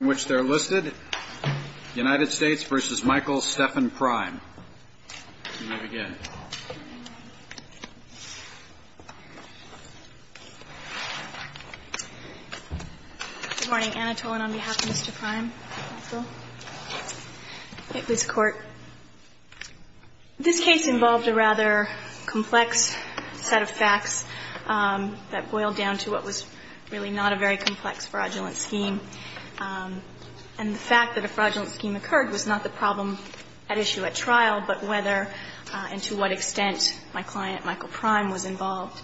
in which they're listed, United States v. Michael Stephan Prime. You may begin. Good morning, Anatole, and on behalf of Mr. Prime, counsel. Thank you, Mr. Court. This case involved a rather complex set of facts that boiled down to what was really not a very complex fraudulent scheme. And the fact that a fraudulent scheme occurred was not the problem at issue at trial, but whether and to what extent my client, Michael Prime, was involved.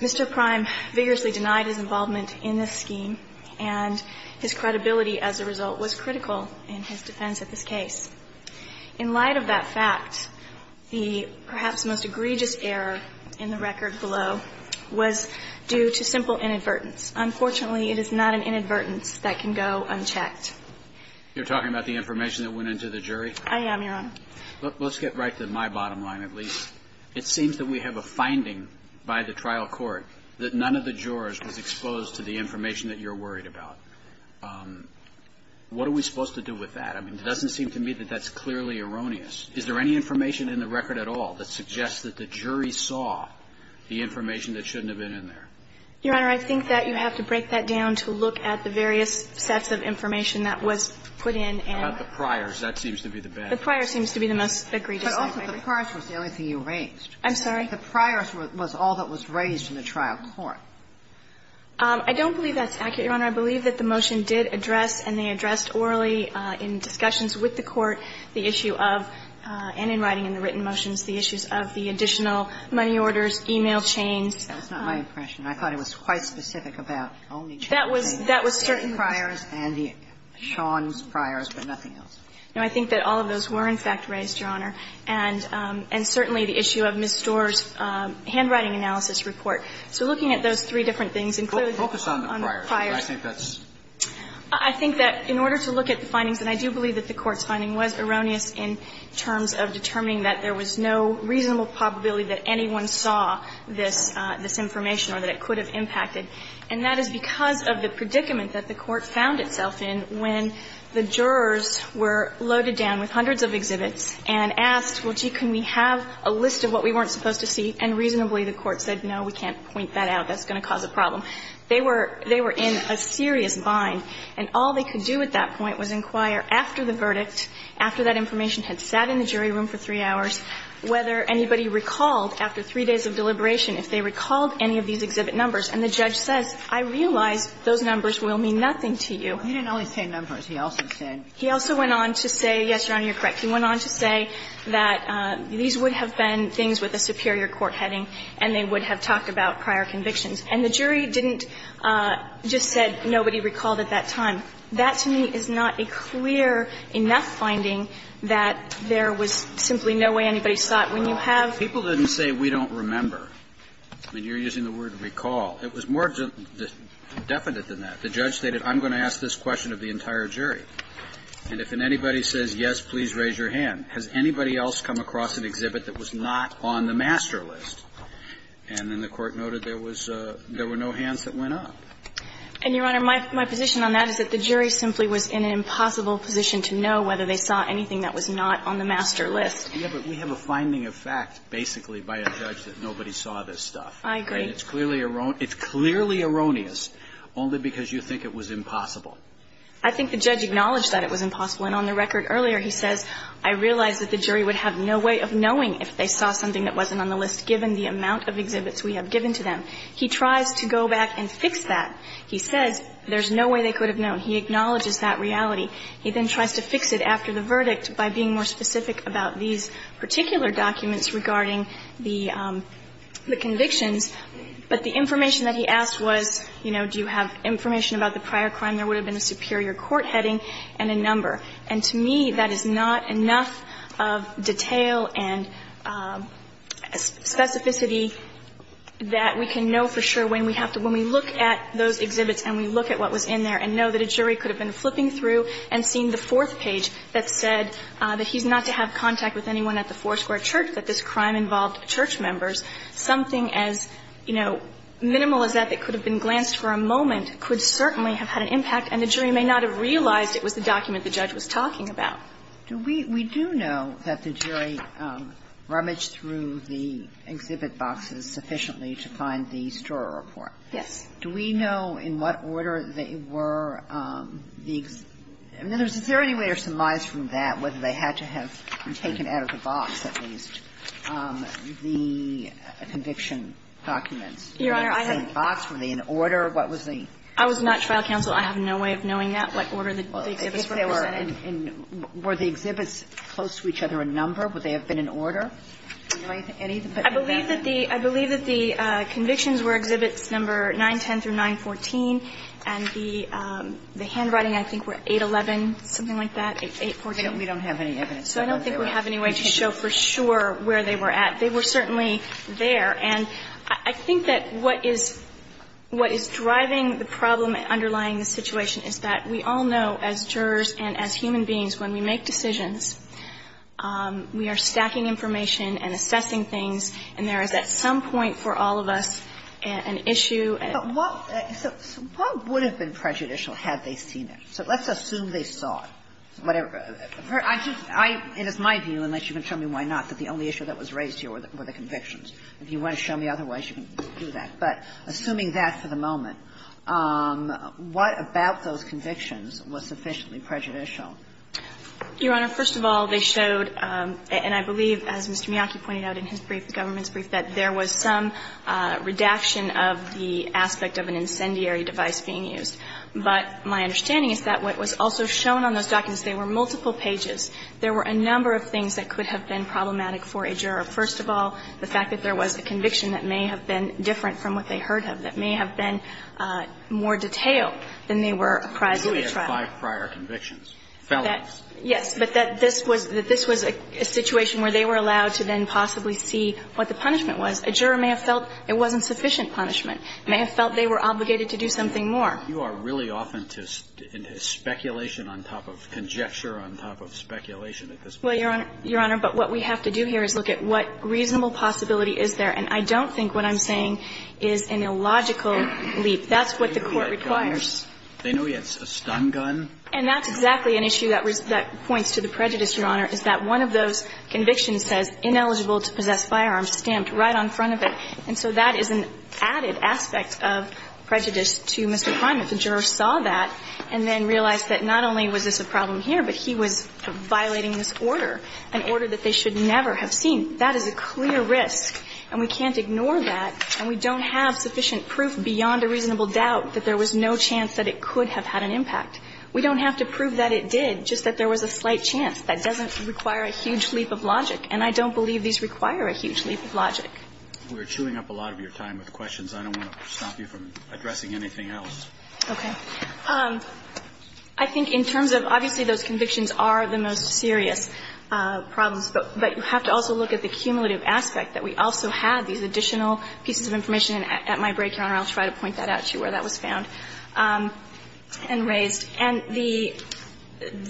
Mr. Prime vigorously denied his involvement in this scheme, and his credibility as a result was critical in his defense of this case. In light of that fact, the perhaps most egregious error in the record below was due to simple inadvertence. Unfortunately, it is not an inadvertence that can go unchecked. You're talking about the information that went into the jury? I am, Your Honor. Let's get right to my bottom line, at least. It seems that we have a finding by the trial court that none of the jurors was exposed to the information that you're worried about. What are we supposed to do with that? I mean, it doesn't seem to me that that's clearly erroneous. Is there any information in the record at all that suggests that the jury saw the information that shouldn't have been in there? Your Honor, I think that you have to break that down to look at the various sets of information that was put in and the priors. That seems to be the best. The priors seems to be the most egregious. But also, the priors was the only thing you raised. I'm sorry? The priors was all that was raised in the trial court. I don't believe that's accurate, Your Honor. I believe that the motion did address and they addressed orally in discussions with the court the issue of, and in writing in the written motions, the issues of the additional money orders, e-mail chains. That was not my impression. I thought it was quite specific about only the priors and the Sean's priors, but nothing else. No, I think that all of those were, in fact, raised, Your Honor, and certainly the issue of Ms. Storr's handwriting analysis report. So looking at those three different things, including the priors. Focus on the priors. I think that's the case. I think that in order to look at the findings, and I do believe that the Court's finding was erroneous in terms of determining that there was no reasonable probability that anyone saw this information or that it could have impacted. And that is because of the predicament that the Court found itself in when the jurors were loaded down with hundreds of exhibits and asked, well, gee, can we have a list of what we weren't supposed to see, and reasonably the Court said, no, we can't point that out, that's going to cause a problem. They were in a serious bind, and all they could do at that point was inquire after the verdict, after that information had sat in the jury room for three hours, whether anybody recalled, after three days of deliberation, if they recalled any of these exhibit numbers, and the judge says, I realize those numbers will mean nothing to you. Kagan He didn't only say numbers. He also said he also went on to say, yes, Your Honor, you're correct, he went on to say that these would have been things with a superior court heading, and they would have talked about prior convictions, and the jury didn't just said nobody recalled at that time. That, to me, is not a clear enough finding that there was simply no way anybody was not on the master list. And I think that's a clear point that the jury didn't want to make, was that they thought when you have to recall. Roberts People didn't say we don't remember. I mean, you're using the word recall. It was more definite than that. The judge stated, I'm going to ask this question of the entire jury, and if anybody says yes, please raise your hand. Has anybody else come across an exhibit that was not on the master list? And then the court noted there was no hands that went up. Harrington And, Your Honor, my position on that is that the jury simply was in an impossible position to know whether they saw anything that was not on the master list. Roberts Yeah, but we have a finding of fact, basically, by a judge that nobody saw this stuff. Harrington I agree. Roberts And it's clearly erroneous, only because you think it was impossible. Harrington I think the judge acknowledged that it was impossible. And on the record earlier, he says, I realize that the jury would have no way of knowing if they saw something that wasn't on the list given the amount of exhibits we have given to them. He tries to go back and fix that. He says there's no way they could have known. He acknowledges that reality. He then tries to fix it after the verdict by being more specific about these particular documents regarding the convictions. But the information that he asked was, you know, do you have information about the prior crime? There would have been a superior court heading and a number. And to me, that is not enough of detail and specificity that we can know for sure when we have to – when we look at those exhibits and we look at what was in there and know that a jury could have been flipping through and seen the fourth page that said that he's not to have contact with anyone at the Foursquare Church, that this crime involved church members. Something as, you know, minimal as that that could have been glanced for a moment could certainly have had an impact. And the jury may not have realized it was the document the judge was talking about. Do we – we do know that the jury rummaged through the exhibit boxes sufficiently to find the Storer report. Yes. Do we know in what order they were – I mean, is there any way or surmise from that whether they had to have taken out of the box at least the conviction documents? Your Honor, I have – Were they in the same box? Were they in order? What was the – I was not trial counsel. I have no way of knowing that, what order the exhibits were presented. Well, I think they were in – were the exhibits close to each other in number? Would they have been in order? Do you have any of that? I believe that the – I believe that the convictions were exhibits number 910 through 914, and the – the handwriting, I think, were 811, something like that, 814. We don't have any evidence. So I don't think we have any way to show for sure where they were at. They were certainly there. And I think that what is – what is driving the problem underlying the situation is that we all know, as jurors and as human beings, when we make decisions, we are stacking information and assessing things, and there is at some point for all of us an issue. But what – so what would have been prejudicial had they seen it? So let's assume they saw it, whatever. I just – I – and it's my view, unless you can tell me why not, that the only issue that was raised here were the convictions. If you want to show me otherwise, you can do that. But assuming that for the moment, what about those convictions was sufficiently prejudicial? Your Honor, first of all, they showed, and I believe, as Mr. Miyake pointed out in his brief, the government's brief, that there was some redaction of the aspect of an incendiary device being used. But my understanding is that what was also shown on those documents, they were multiple pages. There were a number of things that could have been problematic for a juror. First of all, the fact that there was a conviction that may have been different from what they heard of, that may have been more detailed than they were apprised of at trial. But you only had five prior convictions, felons. Yes, but that this was – that this was a situation where they were allowed to then possibly see what the punishment was. A juror may have felt it wasn't sufficient punishment, may have felt they were obligated to do something more. You are really often to – into speculation on top of conjecture on top of speculation at this point. Well, Your Honor – Your Honor, but what we have to do here is look at what reasonable possibility is there. And I don't think what I'm saying is an illogical leap. That's what the Court requires. They know he had a gun, they know he had a stun gun. And that's exactly an issue that points to the prejudice, Your Honor, is that one of those convictions says, ineligible to possess firearms, stamped right on front of it. And so that is an added aspect of prejudice to Mr. Prime, that the juror saw that and then realized that not only was this a problem here, but he was violating this order, an order that they should never have seen. That is a clear risk, and we can't ignore that. And we don't have sufficient proof beyond a reasonable doubt that there was no chance that it could have had an impact. We don't have to prove that it did, just that there was a slight chance. That doesn't require a huge leap of logic. And I don't believe these require a huge leap of logic. We're chewing up a lot of your time with questions. I don't want to stop you from addressing anything else. Okay. I think in terms of, obviously, those convictions are the most serious problems. But you have to also look at the cumulative aspect, that we also have these additional pieces of information. At my break, Your Honor, I'll try to point that out to you, where that was found and raised. And the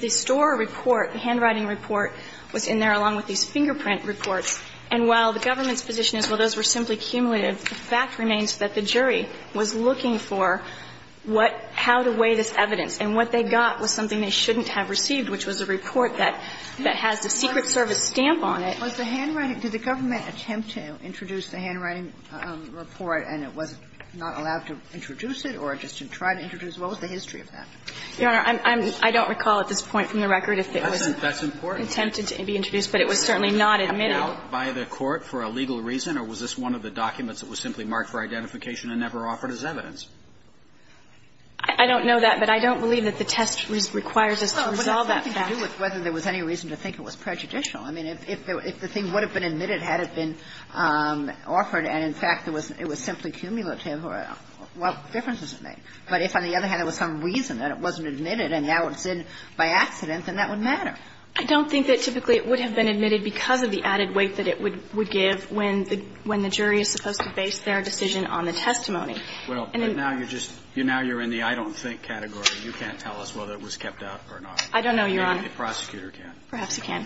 store report, the handwriting report, was in there along with these fingerprint reports. And while the government's position is, well, those were simply cumulative, the fact remains that the jury was looking for what – how to weigh this evidence. And what they got was something they shouldn't have received, which was a report that has the Secret Service stamp on it. Was the handwriting – did the government attempt to introduce the handwriting report and it was not allowed to introduce it or just to try to introduce it? What was the history of that? Your Honor, I'm – I don't recall at this point from the record if it was attempted to be introduced, but it was certainly not admitted. The challenge by this article is obviously that it is something that was just written They would be knocked out by the court, by a court for a legal reason. Or was this one of the documents that was simply marked for identification and never offered as evidence? I don't know that, but I don't believe that the test requires us to resolve that fact. Yeah, but I think it had to do with whether there was any to think it was prejudicial. I mean, if there is – if the thing would have been admitted had it been offered and, in fact, it was simply cumulative, what differences does it make? But if, on the other hand, there was some reason that it wasn't admitted and now it's in by accident, then that would matter. I don't think that typically it would have been admitted because of the added weight that it would give when the jury is supposed to base their decision on the testimony. Well, but now you're just – now you're in the I don't think category. You can't tell us whether it was kept out or not. I don't know, Your Honor. Maybe the prosecutor can. Perhaps he can.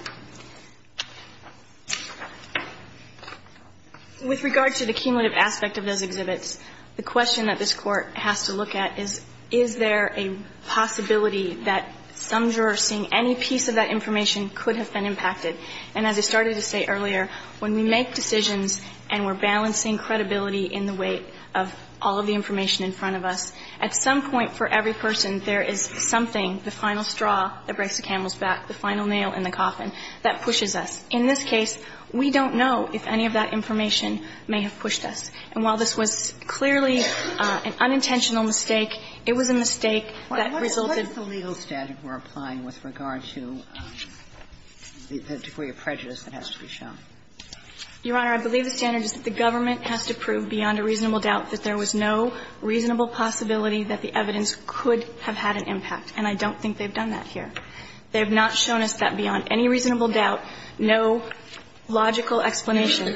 With regard to the cumulative aspect of those exhibits, the question that this Court has to look at is, is there a possibility that some jurors seeing any piece of that information could have been impacted? And as I started to say earlier, when we make decisions and we're balancing credibility in the weight of all of the information in front of us, at some point for every person there is something, the final straw that breaks the camel's back, the final nail in the coffin, that pushes us. In this case, we don't know if any of that information may have pushed us. And while this was clearly an unintentional mistake, it was a mistake that resulted in that. What is the legal standard we're applying with regard to the degree of prejudice that has to be shown? Your Honor, I believe the standard is that the government has to prove beyond a reasonable doubt that there was no reasonable possibility that the evidence could have had an impact, and I don't think they've done that here. They have not shown us that beyond any reasonable doubt, no logical explanation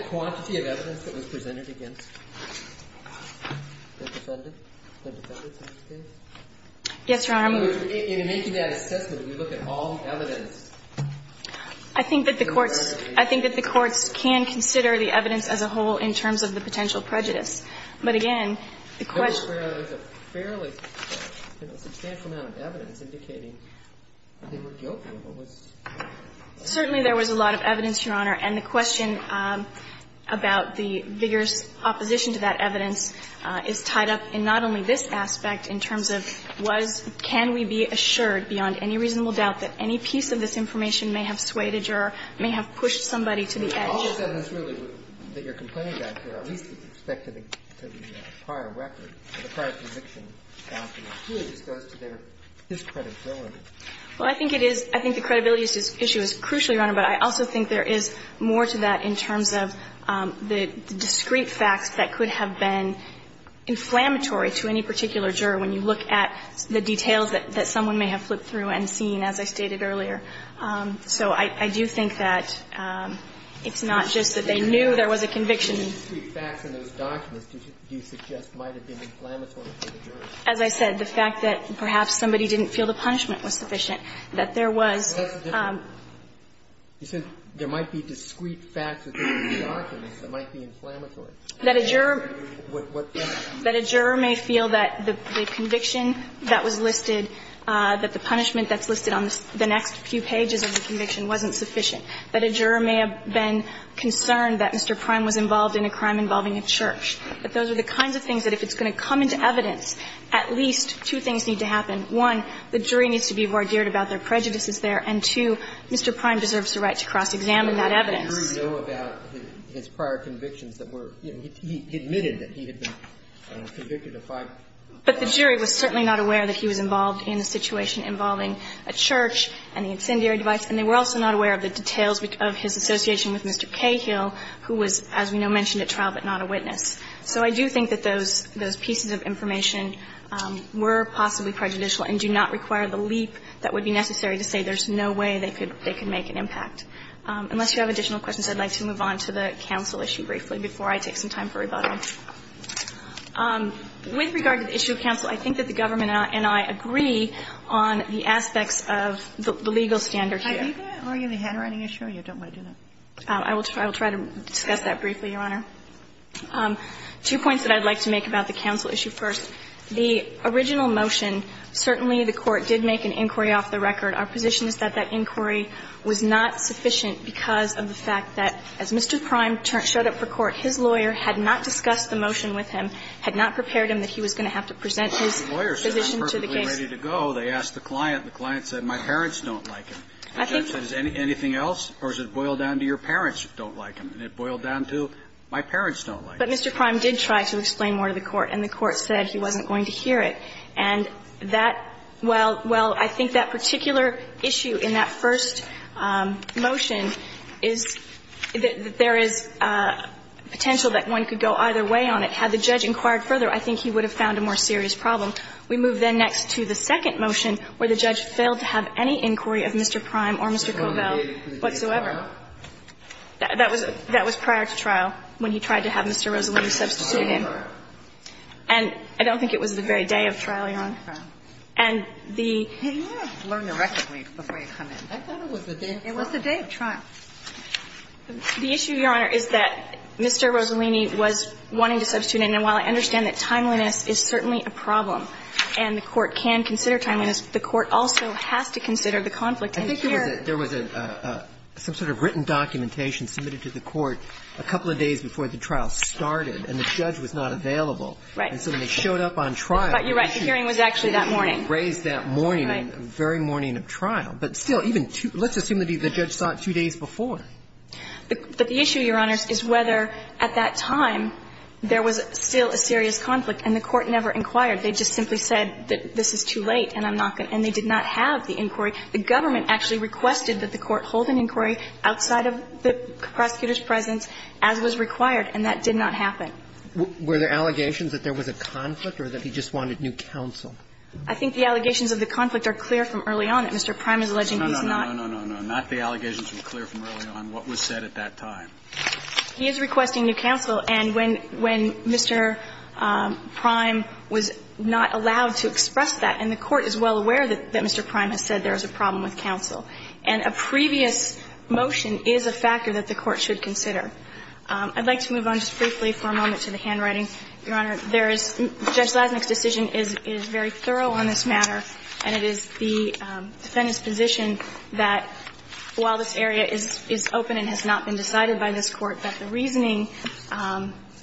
I think that the courts can consider the evidence as a whole in terms of the potential prejudice. But again, the question There was a fairly substantial amount of evidence indicating that they were guilty. Certainly, there was a lot of evidence, Your Honor, and the question of whether that there was a reasonable possibility that there was a reasonable possibility about the vigorous opposition to that evidence is tied up in not only this aspect in terms of was can we be assured beyond any reasonable doubt that any piece of this information may have swayed a juror, may have pushed somebody to the edge. All of that is really that you're complaining about here, at least with respect to the prior record, the prior conviction. It really just goes to their discredibility. Well, I think it is. I think the credibility issue is crucially, Your Honor, but I also think there is more to that in terms of the discrete facts that could have been inflammatory to any particular juror when you look at the details that someone may have flipped through and seen, as I stated earlier. So I do think that it's not just that they knew there was a conviction. The discrete facts in those documents, do you suggest, might have been inflammatory to the juror? As I said, the fact that perhaps somebody didn't feel the punishment was sufficient, that there was You said there might be discrete facts in those documents that might be inflammatory. That a juror may feel that the conviction that was listed, that the punishment that's listed on the next few pages of the conviction wasn't sufficient. That a juror may have been concerned that Mr. Prime was involved in a crime involving a church. That those are the kinds of things that if it's going to come into evidence, at least two things need to happen. One, the jury needs to be vardiered about their prejudices there, and two, Mr. Prime deserves the right to cross-examine that evidence. And the jury know about his prior convictions that were, he admitted that he had been convicted of five crimes. But the jury was certainly not aware that he was involved in a situation involving a church and the incendiary device, and they were also not aware of the details of his association with Mr. Cahill, who was, as we know, mentioned at trial, but not a witness. So I do think that those pieces of information were possibly prejudicial and do not require the leap that would be necessary to say there's no way they could make an impact. Unless you have additional questions, I'd like to move on to the counsel issue briefly before I take some time for rebuttal. With regard to the issue of counsel, I think that the government and I agree on the aspects of the legal standard here. Kagan, are you going to argue the handwriting issue, or you don't want to do that? I will try to discuss that briefly, Your Honor. Two points that I'd like to make about the counsel issue first. The original motion, certainly the Court did make an inquiry off the record. Our position is that that inquiry was not sufficient because of the fact that as Mr. Prime showed up for court, his lawyer had not discussed the motion with him, had not prepared him that he was going to have to present his position to the case. The lawyer said I'm perfectly ready to go. They asked the client. The client said, my parents don't like him. I think that's it. Anything else, or does it boil down to your parents don't like him? And it boiled down to, my parents don't like him. But Mr. Prime did try to explain more to the Court, and the Court said he wasn't going to hear it. And that, well, well, I think that particular issue in that first motion is that there is potential that one could go either way on it. Had the judge inquired further, I think he would have found a more serious problem. We move then next to the second motion, where the judge failed to have any inquiry of Mr. Prime or Mr. Covell whatsoever. That was prior to trial, when he tried to have Mr. Rossellini substituted in. And I don't think it was the very day of trial, Your Honor. And the issue, Your Honor, is that Mr. Rossellini was wanting to substitute in, and while I understand that timeliness is certainly a problem and the Court can consider timeliness, the Court also has to consider the conflict in the case. There was a some sort of written documentation submitted to the Court a couple of days before the trial started, and the judge was not available. Right. And so they showed up on trial. But you're right. The hearing was actually that morning. Raised that morning, the very morning of trial. But still, even two – let's assume that the judge sought two days before. But the issue, Your Honor, is whether at that time there was still a serious conflict and the Court never inquired. They just simply said that this is too late and I'm not going to – and they did not have the inquiry. The government actually requested that the Court hold an inquiry outside of the prosecutor's presence, as was required, and that did not happen. Were there allegations that there was a conflict or that he just wanted new counsel? I think the allegations of the conflict are clear from early on, that Mr. Prime is alleging he's not – No, no, no, no, no, no, no. Not the allegations were clear from early on what was said at that time. He is requesting new counsel. And when Mr. Prime was not allowed to express that, and the Court is well aware that Mr. Prime has said there is a problem with counsel, and a previous motion is a factor that the Court should consider. I'd like to move on just briefly for a moment to the handwriting. Your Honor, there is – Judge Zlaznik's decision is very thorough on this matter, and it is the defendant's position that while this area is open and has not been decided by this Court, that the reasoning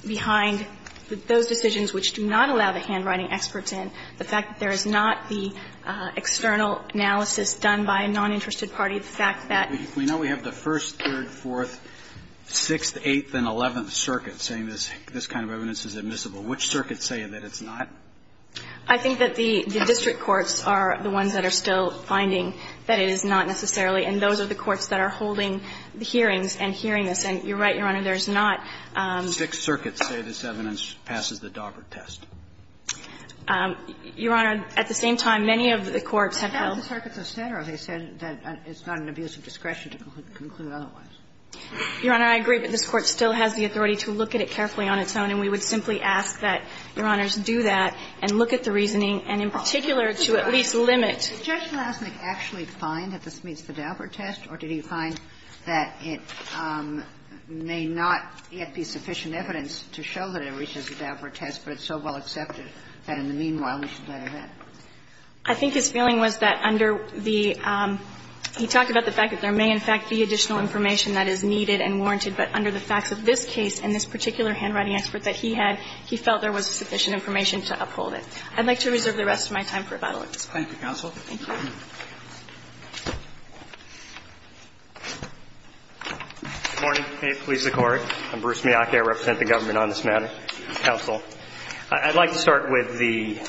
behind those decisions which do not allow the handwriting experts in, the fact that there is not the external analysis done by a noninterested party, the fact that – We know we have the First, Third, Fourth, Sixth, Eighth, and Eleventh Circuits saying this kind of evidence is admissible. Which circuits say that it's not? I think that the district courts are the ones that are still finding that it is not necessarily, and those are the courts that are holding the hearings and hearing this. And you're right, Your Honor, there's not – Six circuits say this evidence passes the Daubert test. Your Honor, at the same time, many of the courts have held – But half the circuits have said or have said that it's not an abuse of discretion to conclude otherwise. Your Honor, I agree, but this Court still has the authority to look at it carefully on its own, and we would simply ask that, Your Honors, do that and look at the reasoning, and in particular, to at least limit – Did Judge Zlaznik actually find that this meets the Daubert test, or did he find that this meets the Daubert test, but it's so well accepted that, in the meanwhile, we should let it go? I think his feeling was that under the – he talked about the fact that there may, in fact, be additional information that is needed and warranted, but under the facts of this case and this particular handwriting expert that he had, he felt there was sufficient information to uphold it. I'd like to reserve the rest of my time for about 11 minutes. Thank you, counsel. Thank you. Good morning. I'm Bruce Miyake, I represent the government on this matter. Counsel, I'd like to start with the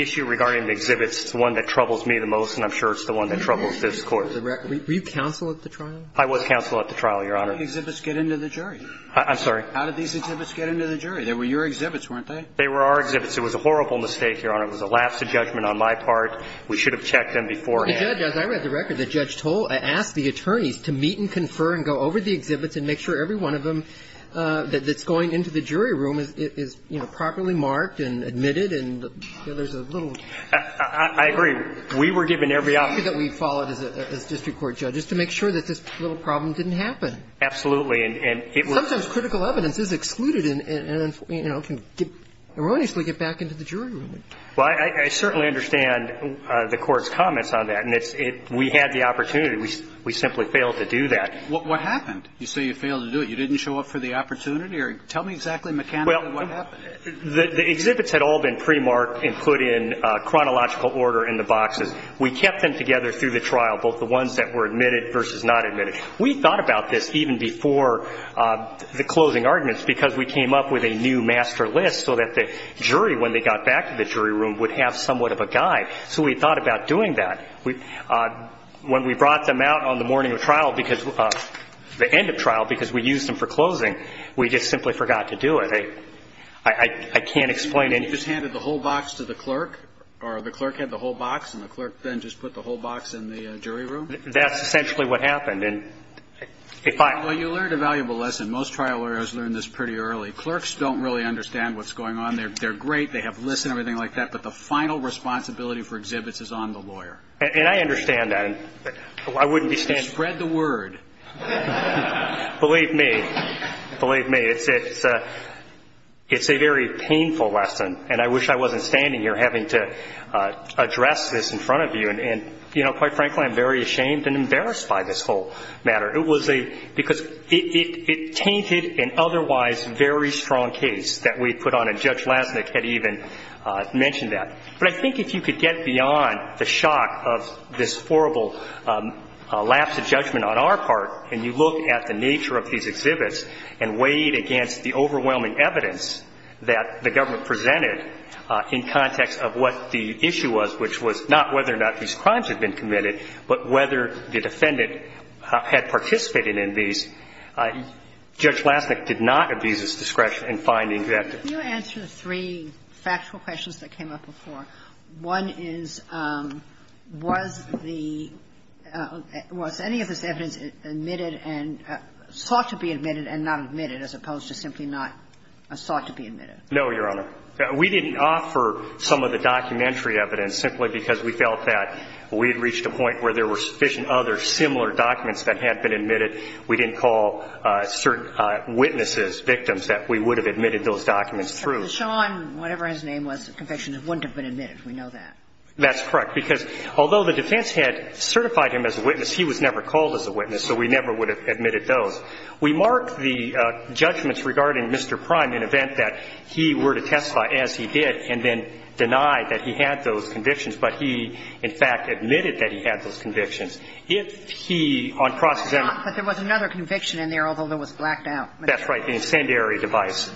issue regarding the exhibits. It's the one that troubles me the most, and I'm sure it's the one that troubles this Court. Were you counsel at the trial? I was counsel at the trial, Your Honor. How did the exhibits get into the jury? I'm sorry? How did these exhibits get into the jury? They were your exhibits, weren't they? They were our exhibits. It was a horrible mistake, Your Honor. It was a lapse of judgment on my part. We should have checked them beforehand. As I read the record, the judge asked the attorneys to meet and confer and go over the exhibits and make sure every one of them that's going into the jury room is properly marked and admitted, and there's a little... I agree. We were given every opportunity... ...that we followed as district court judges to make sure that this little problem didn't happen. Absolutely. And it was... Sometimes critical evidence is excluded and can erroneously get back into the jury room. Well, I certainly understand the Court's comments on that, and we had the opportunity. We simply failed to do that. What happened? You say you failed to do it. You didn't show up for the opportunity? Tell me exactly mechanically what happened. The exhibits had all been pre-marked and put in chronological order in the boxes. We kept them together through the trial, both the ones that were admitted versus not admitted. We thought about this even before the closing arguments because we came up with a new idea that the jury room would have somewhat of a guide. So we thought about doing that. When we brought them out on the morning of trial, the end of trial, because we used them for closing, we just simply forgot to do it. I can't explain it. You just handed the whole box to the clerk, or the clerk had the whole box and the clerk then just put the whole box in the jury room? That's essentially what happened. Well, you learned a valuable lesson. Most trial lawyers learn this pretty early. Clerks don't really understand what's going on. They're great. They have lists and everything like that, but the final responsibility for exhibits is on the lawyer. And I understand that. I wouldn't be standing here. Spread the word. Believe me. Believe me. It's a very painful lesson, and I wish I wasn't standing here having to address this in front of you. And quite frankly, I'm very ashamed and embarrassed by this whole matter. It was a, because it tainted an otherwise very strong case that we put on, and Judge Lassnick had been mentioned that. But I think if you could get beyond the shock of this horrible lapse of judgment on our part, and you look at the nature of these exhibits and weighed against the overwhelming evidence that the government presented in context of what the issue was, which was not whether or not these crimes had been committed, but whether the defendant had participated in these, Judge Lassnick did not abuse his discretion in finding that. I think that's the way to look at it. Can you answer the three factual questions that came up before? One is, was the, was any of this evidence admitted and, sought to be admitted and not admitted, as opposed to simply not sought to be admitted? No, Your Honor. We didn't offer some of the documentary evidence simply because we felt that we had reached a point where there were sufficient other similar documents that had been admitted. We didn't call certain witnesses, victims, that we would have admitted those documents through. But the Sean, whatever his name was, conviction wouldn't have been admitted. We know that. That's correct. Because although the defense had certified him as a witness, he was never called as a witness, so we never would have admitted those. We mark the judgments regarding Mr. Prime in event that he were to testify, as he did, and then deny that he had those convictions, but he, in fact, admitted that he had those convictions. If he, on cross-examination But there was another conviction in there, although it was blacked out. That's right. The incendiary device.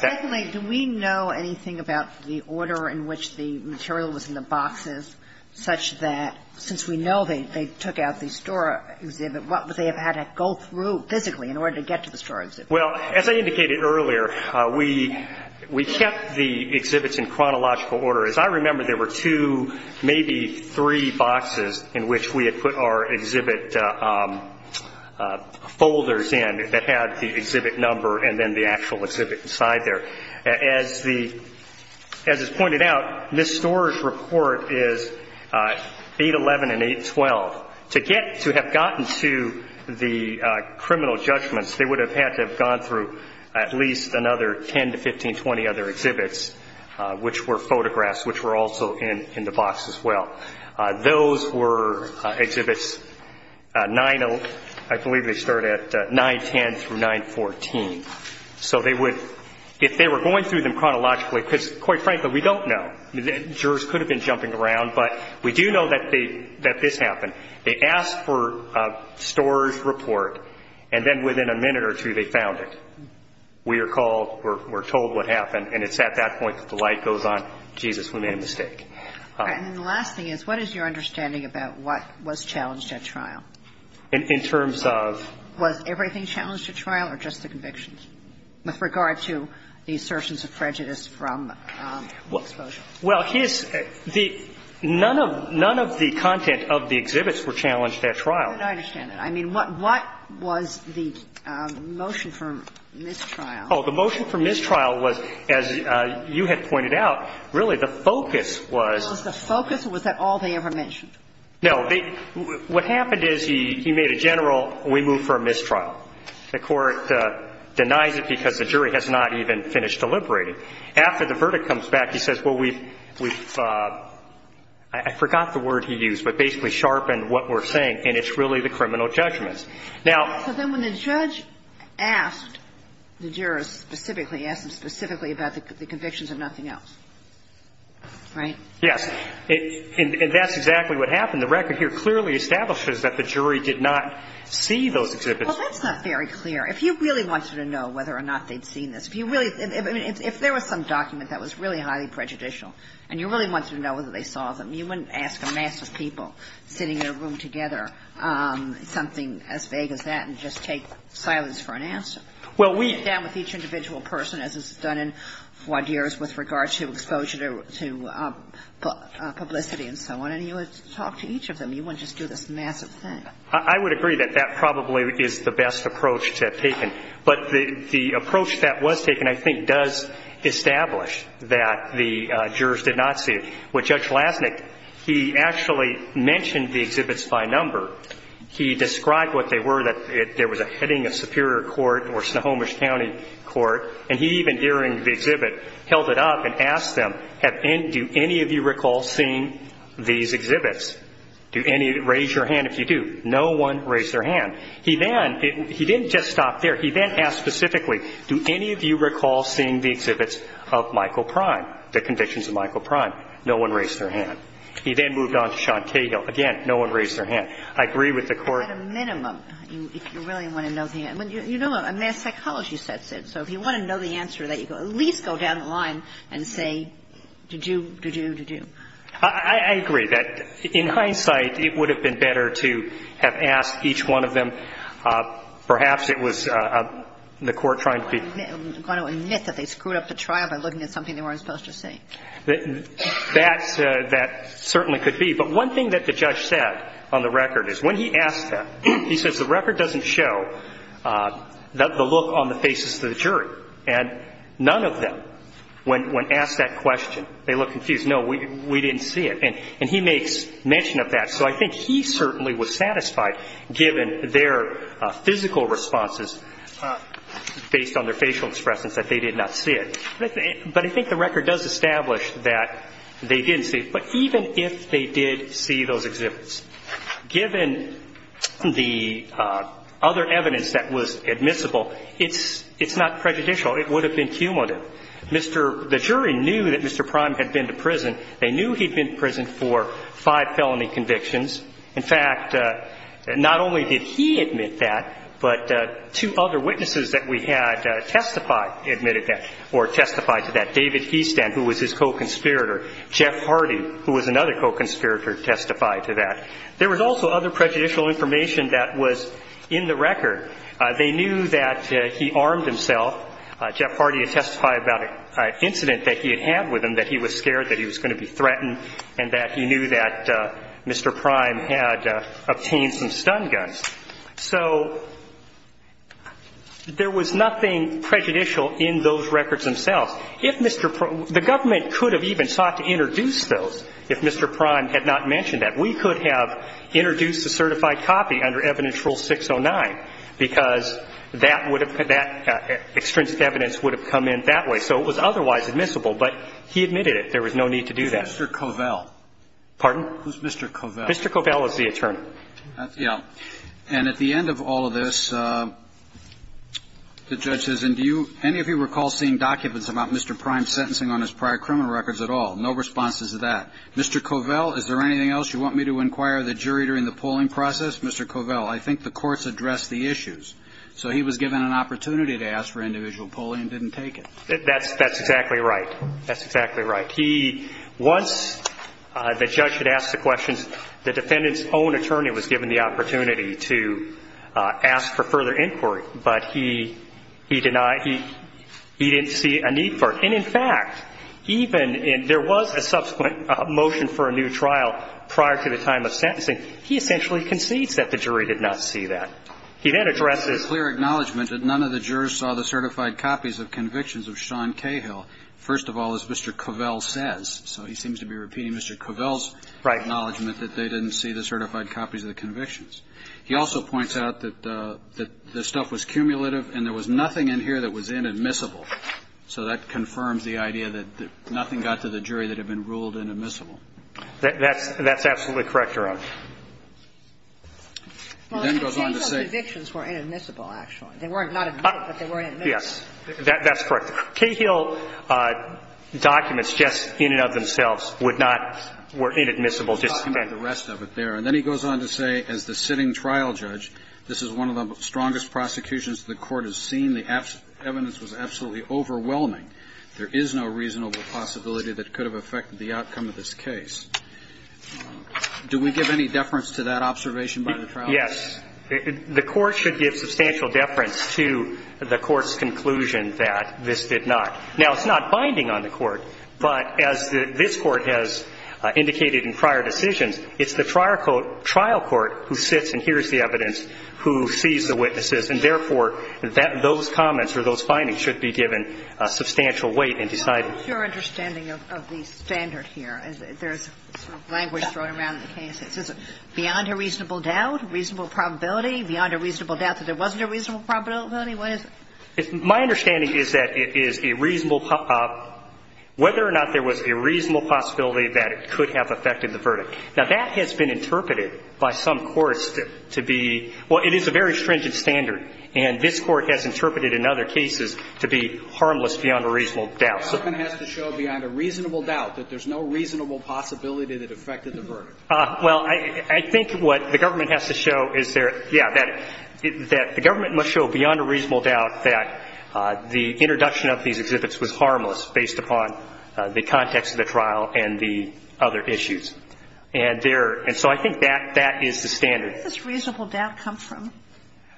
Secondly, do we know anything about the order in which the material was in the boxes such that, since we know they took out the Stora exhibit, what would they have had to go through physically in order to get to the Stora exhibit? Well, as I indicated earlier, we kept the exhibits in chronological order. As I remember, there were two, maybe three boxes in which we had put our exhibit folders in that had the exhibit number and then the actual exhibit inside there. As is pointed out, this Stora's report is 811 and 812. To have gotten to the criminal judgments, they would have had to have gone through at least another 10 to 15, 20 other exhibits, which were photographs, which were also in the box as well. Those were exhibits 9, I believe they start at 910 through 914. So they would, if they were going through them chronologically, because, quite frankly, we don't know. Jurors could have been jumping around, but we do know that this happened. They asked for a Stora's report, and then within a minute or two, they found it. We are called, we're told what happened, and it's at that point that the light goes on, Jesus, we made a mistake. And the last thing is, what is your understanding about what was challenged at trial? In terms of? Was everything challenged at trial or just the convictions, with regard to the assertions of prejudice from exposure? Well, his, the, none of the content of the exhibits were challenged at trial. How could I understand that? I mean, what was the motion for mistrial? Oh, the motion for mistrial was, as you had pointed out, really the focus was. Was the focus, or was that all they ever mentioned? No, they, what happened is he made a general, we move for a mistrial. The Court denies it because the jury has not even finished deliberating. After the verdict comes back, he says, well, we've, we've, I forgot the word he used, but basically sharpened what we're saying, and it's really the criminal judgments. Now. So then when the judge asked the jurors specifically, asked them specifically about the convictions and nothing else, right? Yes. And that's exactly what happened. The record here clearly establishes that the jury did not see those exhibits. Well, that's not very clear. If you really wanted to know whether or not they'd seen this, if you really, I mean, if there was some document that was really highly prejudicial, and you really wanted to know whether they saw them, you wouldn't ask a mass of people sitting in a room together something as vague as that and just take silence for an answer. Well, we. We sit down with each individual person, as is done in foie d'oeuvres with regard to exposure to publicity and so on, and you would talk to each of them. You wouldn't just do this massive thing. I would agree that that probably is the best approach to have taken. But the approach that was taken, I think, does establish that the jurors did not see it. With Judge Lasnik, he actually mentioned the exhibits by number. He described what they were, that there was a heading of Superior Court or Snohomish County Court. And he even, during the exhibit, held it up and asked them, do any of you recall seeing these exhibits? Do any of you, raise your hand if you do. No one raised their hand. He then, he didn't just stop there. He then asked specifically, do any of you recall seeing the exhibits of Michael Prime, the convictions of Michael Prime? No one raised their hand. He then moved on to Sean Cahill. Again, no one raised their hand. I agree with the Court. At a minimum, if you really want to know the answer. You know, a mass psychology sets it. So if you want to know the answer, at least go down the line and say, did you, did you, did you. I agree that in hindsight, it would have been better to have asked each one of them. Perhaps it was the Court trying to be. I'm going to admit that they screwed up the trial by looking at something they weren't supposed to see. That's, that certainly could be. But one thing that the judge said on the record is, when he asked that, he says the record doesn't show the look on the faces of the jury. And none of them, when, when asked that question, they look confused. No, we, we didn't see it. And, and he makes mention of that. So I think he certainly was satisfied, given their physical responses based on their facial expressions, that they did not see it. But I think the record does establish that they didn't see it. But even if they did see those exhibits, given the other evidence that was admissible, it's, it's not prejudicial. It would have been cumulative. Mr., the jury knew that Mr. Prime had been to prison. They knew he'd been to prison for five felony convictions. In fact, not only did he admit that, but two other witnesses that we had testify, admitted that, or testified to that. David Heastand, who was his co-conspirator. Jeff Hardy, who was another co-conspirator, testified to that. There was also other prejudicial information that was in the record. They knew that he armed himself. Jeff Hardy had testified about an incident that he had had with him, that he was scared that he was going to be threatened and that he knew that Mr. Prime had obtained some stun guns. So there was nothing prejudicial in those records themselves. If Mr. Prime – the government could have even sought to introduce those if Mr. Prime had not mentioned that. We could have introduced a certified copy under Evidence Rule 609, because that would have, that extrinsic evidence would have come in that way. So it was otherwise admissible, but he admitted it. There was no need to do that. Mr. Covell. Pardon? Who's Mr. Covell? Mr. Covell is the attorney. Yeah. And at the end of all of this, the judge says, and do you, any of you recall seeing documents about Mr. Prime sentencing on his prior criminal records at all? No responses to that. Mr. Covell, is there anything else you want me to inquire the jury during the polling process? Mr. Covell, I think the courts addressed the issues. So he was given an opportunity to ask for individual polling and didn't take it. That's exactly right. That's exactly right. He was – the judge had asked the questions. The defendant's own attorney was given the opportunity to ask for further inquiry, but he denied – he didn't see a need for it. And in fact, even in – there was a subsequent motion for a new trial prior to the time of sentencing. He essentially concedes that the jury did not see that. He then addresses – There's a clear acknowledgment that none of the jurors saw the certified copies of convictions of Sean Cahill, first of all, as Mr. Covell says. So he seems to be repeating Mr. Covell's acknowledgment that they didn't see the certified copies of the convictions. He also points out that the stuff was cumulative and there was nothing in here that was inadmissible. So that confirms the idea that nothing got to the jury that had been ruled inadmissible. That's absolutely correct, Your Honor. He then goes on to say – Well, the Cahill convictions were inadmissible, actually. They were not admitted, but they were inadmissible. Yes. That's correct. Cahill documents just in and of themselves would not – were inadmissible just in – He's got the rest of it there. And then he goes on to say, as the sitting trial judge, this is one of the strongest prosecutions the Court has seen. The evidence was absolutely overwhelming. There is no reasonable possibility that could have affected the outcome of this case. Do we give any deference to that observation by the trial judge? Yes. The Court should give substantial deference to the Court's conclusion that this did not. Now, it's not binding on the Court, but as this Court has indicated in prior decisions, it's the trial court who sits and hears the evidence, who sees the witnesses. And therefore, those comments or those findings should be given substantial weight and decided. What is your understanding of the standard here? There's language thrown around in the case. Is it beyond a reasonable doubt, reasonable probability, beyond a reasonable doubt that it wasn't a reasonable probability? What is it? My understanding is that it is a reasonable – whether or not there was a reasonable possibility that it could have affected the verdict. Now, that has been interpreted by some courts to be – well, it is a very stringent standard, and this Court has interpreted in other cases to be harmless beyond a reasonable doubt. So the government has to show beyond a reasonable doubt that there's no reasonable possibility that it affected the verdict? Well, I think what the government has to show is there – yeah, that the government must show beyond a reasonable doubt that the introduction of these exhibits was harmless based upon the context of the trial and the other issues. And there – and so I think that – that is the standard. Where does this reasonable doubt come from?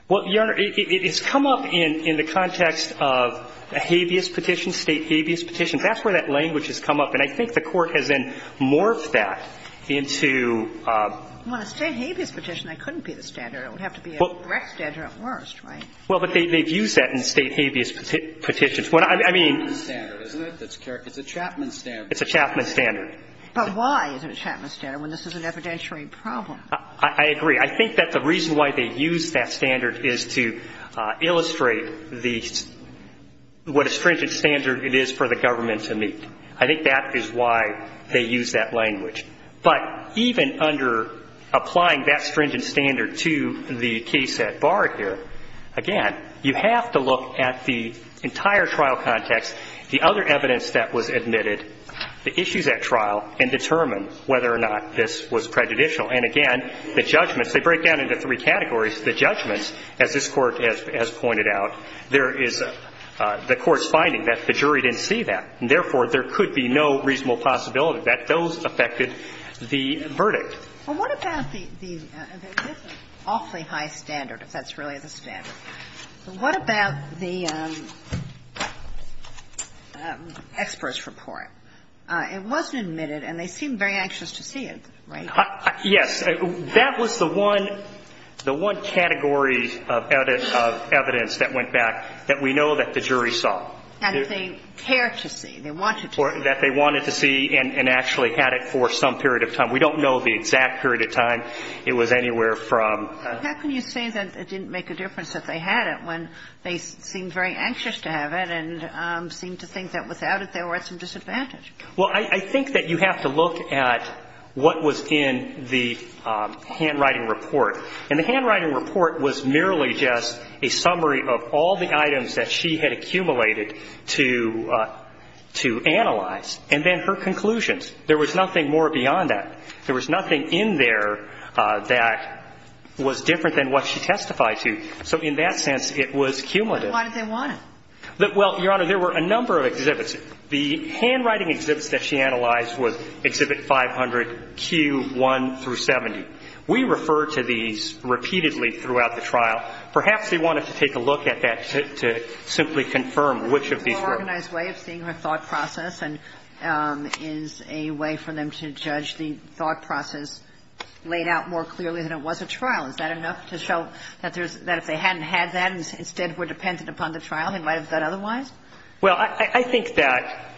Well, Your Honor, it's come up in the context of a habeas petition, State habeas petition. That's where that language has come up. And I think the Court has then morphed that into a – Well, a State habeas petition, that couldn't be the standard. It would have to be a direct standard at worst, right? Well, but they've used that in State habeas petitions. I mean – It's a Chapman standard, isn't it? It's a Chapman standard. It's a Chapman standard. But why is it a Chapman standard when this is an evidentiary problem? I agree. I think that the reason why they used that standard is to illustrate the – what a stringent standard it is for the government to meet. I think that is why they used that language. But even under applying that stringent standard to the case at Bard here, again, you have to look at the entire trial context, the other evidence that was admitted, the issues at trial, and determine whether or not this was prejudicial. And again, the judgments, they break down into three categories. The judgments, as this Court has pointed out, there is – the Court's finding that the jury didn't see that. And therefore, there could be no reasonable possibility that those affected the verdict. Well, what about the – this is awfully high standard, if that's really the standard. What about the expert's report? It wasn't admitted, and they seemed very anxious to see it, right? Yes. That was the one – the one category of evidence that went back that we know that the jury saw. And they care to see. They wanted to see. That they wanted to see and actually had it for some period of time. We don't know the exact period of time it was anywhere from. How can you say that it didn't make a difference that they had it when they seemed very anxious to have it and seemed to think that without it, they were at some disadvantage? Well, I think that you have to look at what was in the handwriting report. And the handwriting report was merely just a summary of all the items that she had accumulated to – to analyze, and then her conclusions. There was nothing more beyond that. There was nothing in there that was different than what she testified to. So in that sense, it was cumulative. But why did they want it? Well, Your Honor, there were a number of exhibits. The handwriting exhibits that she analyzed were Exhibit 500, Q1 through 70. We refer to these repeatedly throughout the trial. Perhaps they wanted to take a look at that to simply confirm which of these were. So the organized way of seeing her thought process is a way for them to judge the thought process laid out more clearly than it was at trial. Is that enough to show that there's – that if they hadn't had that and instead were dependent upon the trial, they might have done otherwise? Well, I think that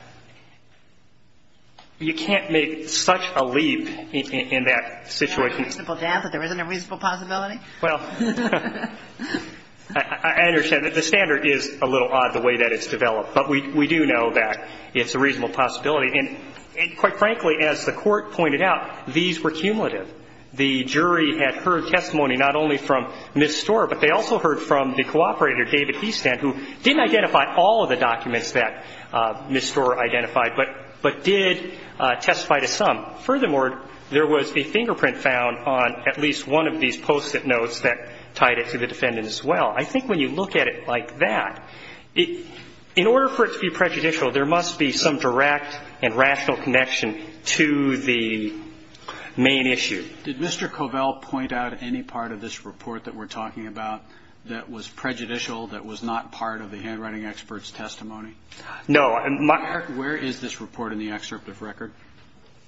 you can't make such a leap in that situation. There's a reasonable doubt that there isn't a reasonable possibility? Well, I understand that the standard is a little odd the way that it's developed. But we do know that it's a reasonable possibility. And quite frankly, as the Court pointed out, these were cumulative. The jury had heard testimony not only from Ms. Storr, but they also heard from the cooperator, David Eastand, who didn't identify all of the documents that Ms. Storr identified, but did testify to some. Furthermore, there was a fingerprint found on at least one of these Post-it notes that tied it to the defendant as well. I think when you look at it like that, in order for it to be prejudicial, there must be some direct and rational connection to the main issue. Did Mr. Covell point out any part of this report that we're talking about that was prejudicial, that was not part of the handwriting expert's testimony? No. Where is this report in the excerpt of record?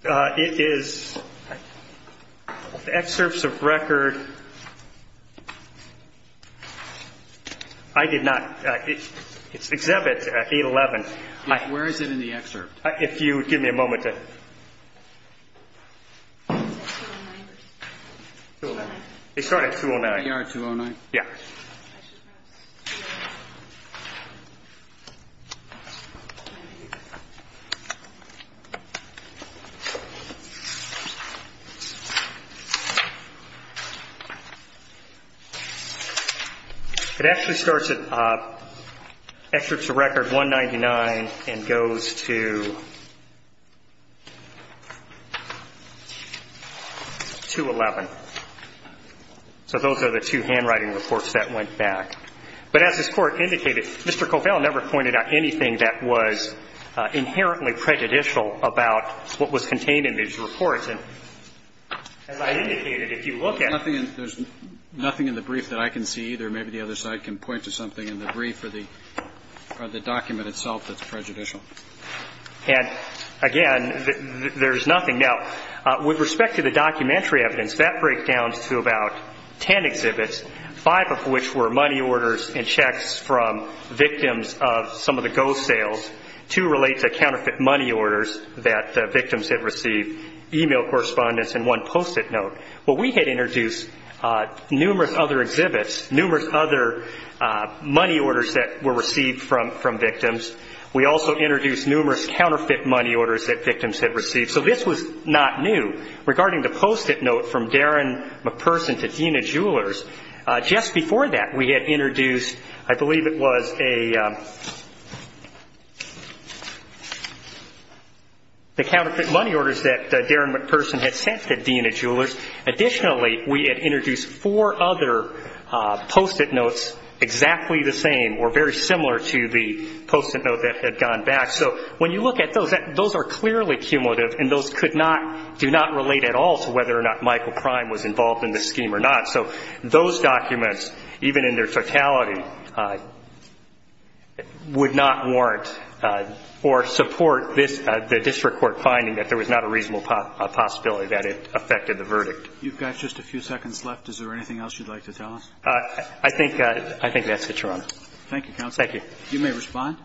It is the excerpts of record, I did not, it's Exhibit 811. Where is it in the excerpt? If you would give me a moment to. Is that 209? 209. It started at 209. We are at 209. Yeah. It actually starts at excerpts of record 199 and goes to 211. So those are the two handwriting reports that went back. But as this Court indicated, Mr. Covell never pointed out anything that was inherently prejudicial about what was contained in these reports. And as I indicated, if you look at it. There's nothing in the brief that I can see either. Maybe the other side can point to something in the brief or the document itself that's prejudicial. And again, there's nothing. Now, with respect to the documentary evidence, that breakdowns to about 10 exhibits, five of which were money orders and checks from victims of some of the ghost sales. Two relate to counterfeit money orders that victims had received. Email correspondence and one post-it note. Well, we had introduced numerous other exhibits, numerous other money orders that were received from victims. We also introduced numerous counterfeit money orders that victims had received. So this was not new. Regarding the post-it note from Darren McPerson to Dina Jewelers, just before that we had introduced, I believe it was a, the counterfeit money orders that Darren McPerson had sent to Dina Jewelers. Additionally, we had introduced four other post-it notes exactly the same or very similar to the post-it note that had gone back. So when you look at those, those are clearly cumulative and those could not, do not relate at all to whether or not Michael Prime was involved in this scheme or not. So those documents, even in their totality, would not warrant or support this, the district court finding that there was not a reasonable possibility that it affected the verdict. You've got just a few seconds left. Is there anything else you'd like to tell us? I think, I think that's it, Your Honor. Thank you, counsel. Thank you. You may respond.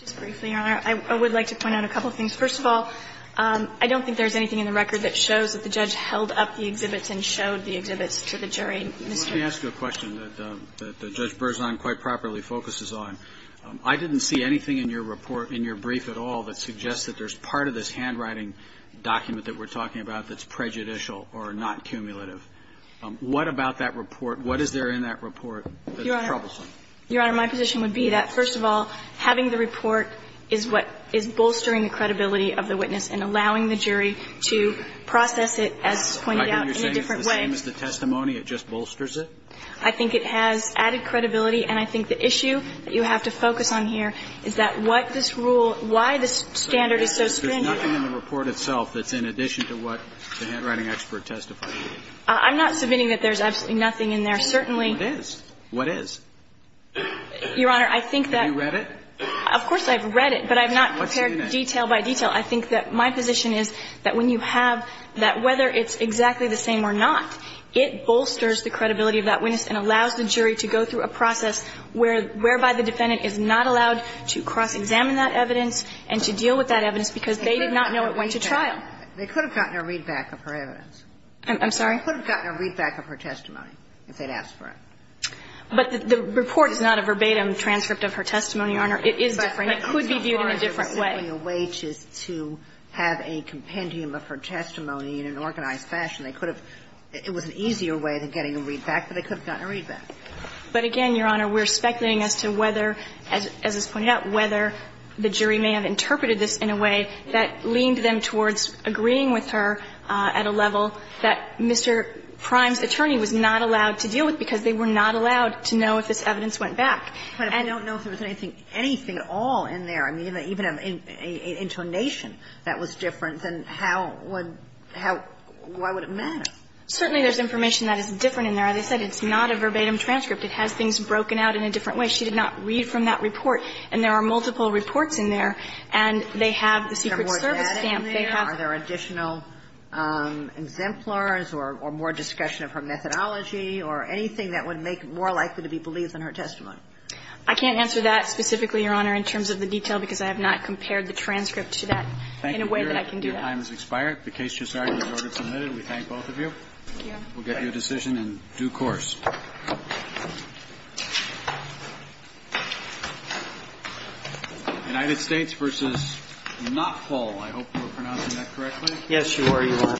Just briefly, Your Honor, I would like to point out a couple of things. First of all, I don't think there's anything in the record that shows that the judge held up the exhibits and showed the exhibits to the jury. Mr. Verrilli. Let me ask you a question that Judge Berzon quite properly focuses on. I didn't see anything in your report, in your brief at all, that suggests that there's part of this handwriting document that we're talking about that's prejudicial or not cumulative. What about that report? What is there in that report that's troublesome? Your Honor, my position would be that, first of all, having the report is what is bolstering the credibility of the witness and allowing the jury to process it, as pointed out, in a different way. I think you're saying it's the same as the testimony, it just bolsters it? I think it has added credibility, and I think the issue that you have to focus on here is that what this rule, why this standard is so stringent. There's nothing in the report itself that's in addition to what the handwriting expert testified. I'm not submitting that there's absolutely nothing in there. Certainly What is? What is? Your Honor, I think that Have you read it? Of course, I've read it, but I've not prepared detail by detail. I think that my position is that when you have that, whether it's exactly the same or not, it bolsters the credibility of that witness and allows the jury to go through a process whereby the defendant is not allowed to cross-examine that evidence and to deal with that evidence because they did not know it went to trial. They could have gotten a readback of her evidence. I'm sorry? They could have gotten a readback of her testimony if they'd asked for it. But the report is not a verbatim transcript of her testimony, Your Honor. It is different. It could be viewed in a different way. It's not as if there was simply a waitress to have a compendium of her testimony in an organized fashion. They could have It was an easier way of getting a readback, but they could have gotten a readback. But again, Your Honor, we're speculating as to whether, as is pointed out, whether the jury may have interpreted this in a way that leaned them towards agreeing with her at a level that Mr. Prime's attorney was not allowed to deal with because they were not allowed to know if this evidence went back. But I don't know if there was anything at all in there, even an intonation that was different than how would why would it matter. Certainly there's information that is different in there. As I said, it's not a verbatim transcript. It has things broken out in a different way. She did not read from that report. And there are multiple reports in there, and they have the Secret Service stamp. Are there additional exemplars or more discussion of her methodology or anything that would make it more likely to be believed in her testimony? I can't answer that specifically, Your Honor, in terms of the detail, because I have not compared the transcript to that in a way that I can do that. Thank you. Your time has expired. The case has already been ordered and submitted. We thank both of you. Thank you. We'll get you a decision in due course. United States versus Knopfahl. I hope we're pronouncing that correctly. Yes, Your Honor.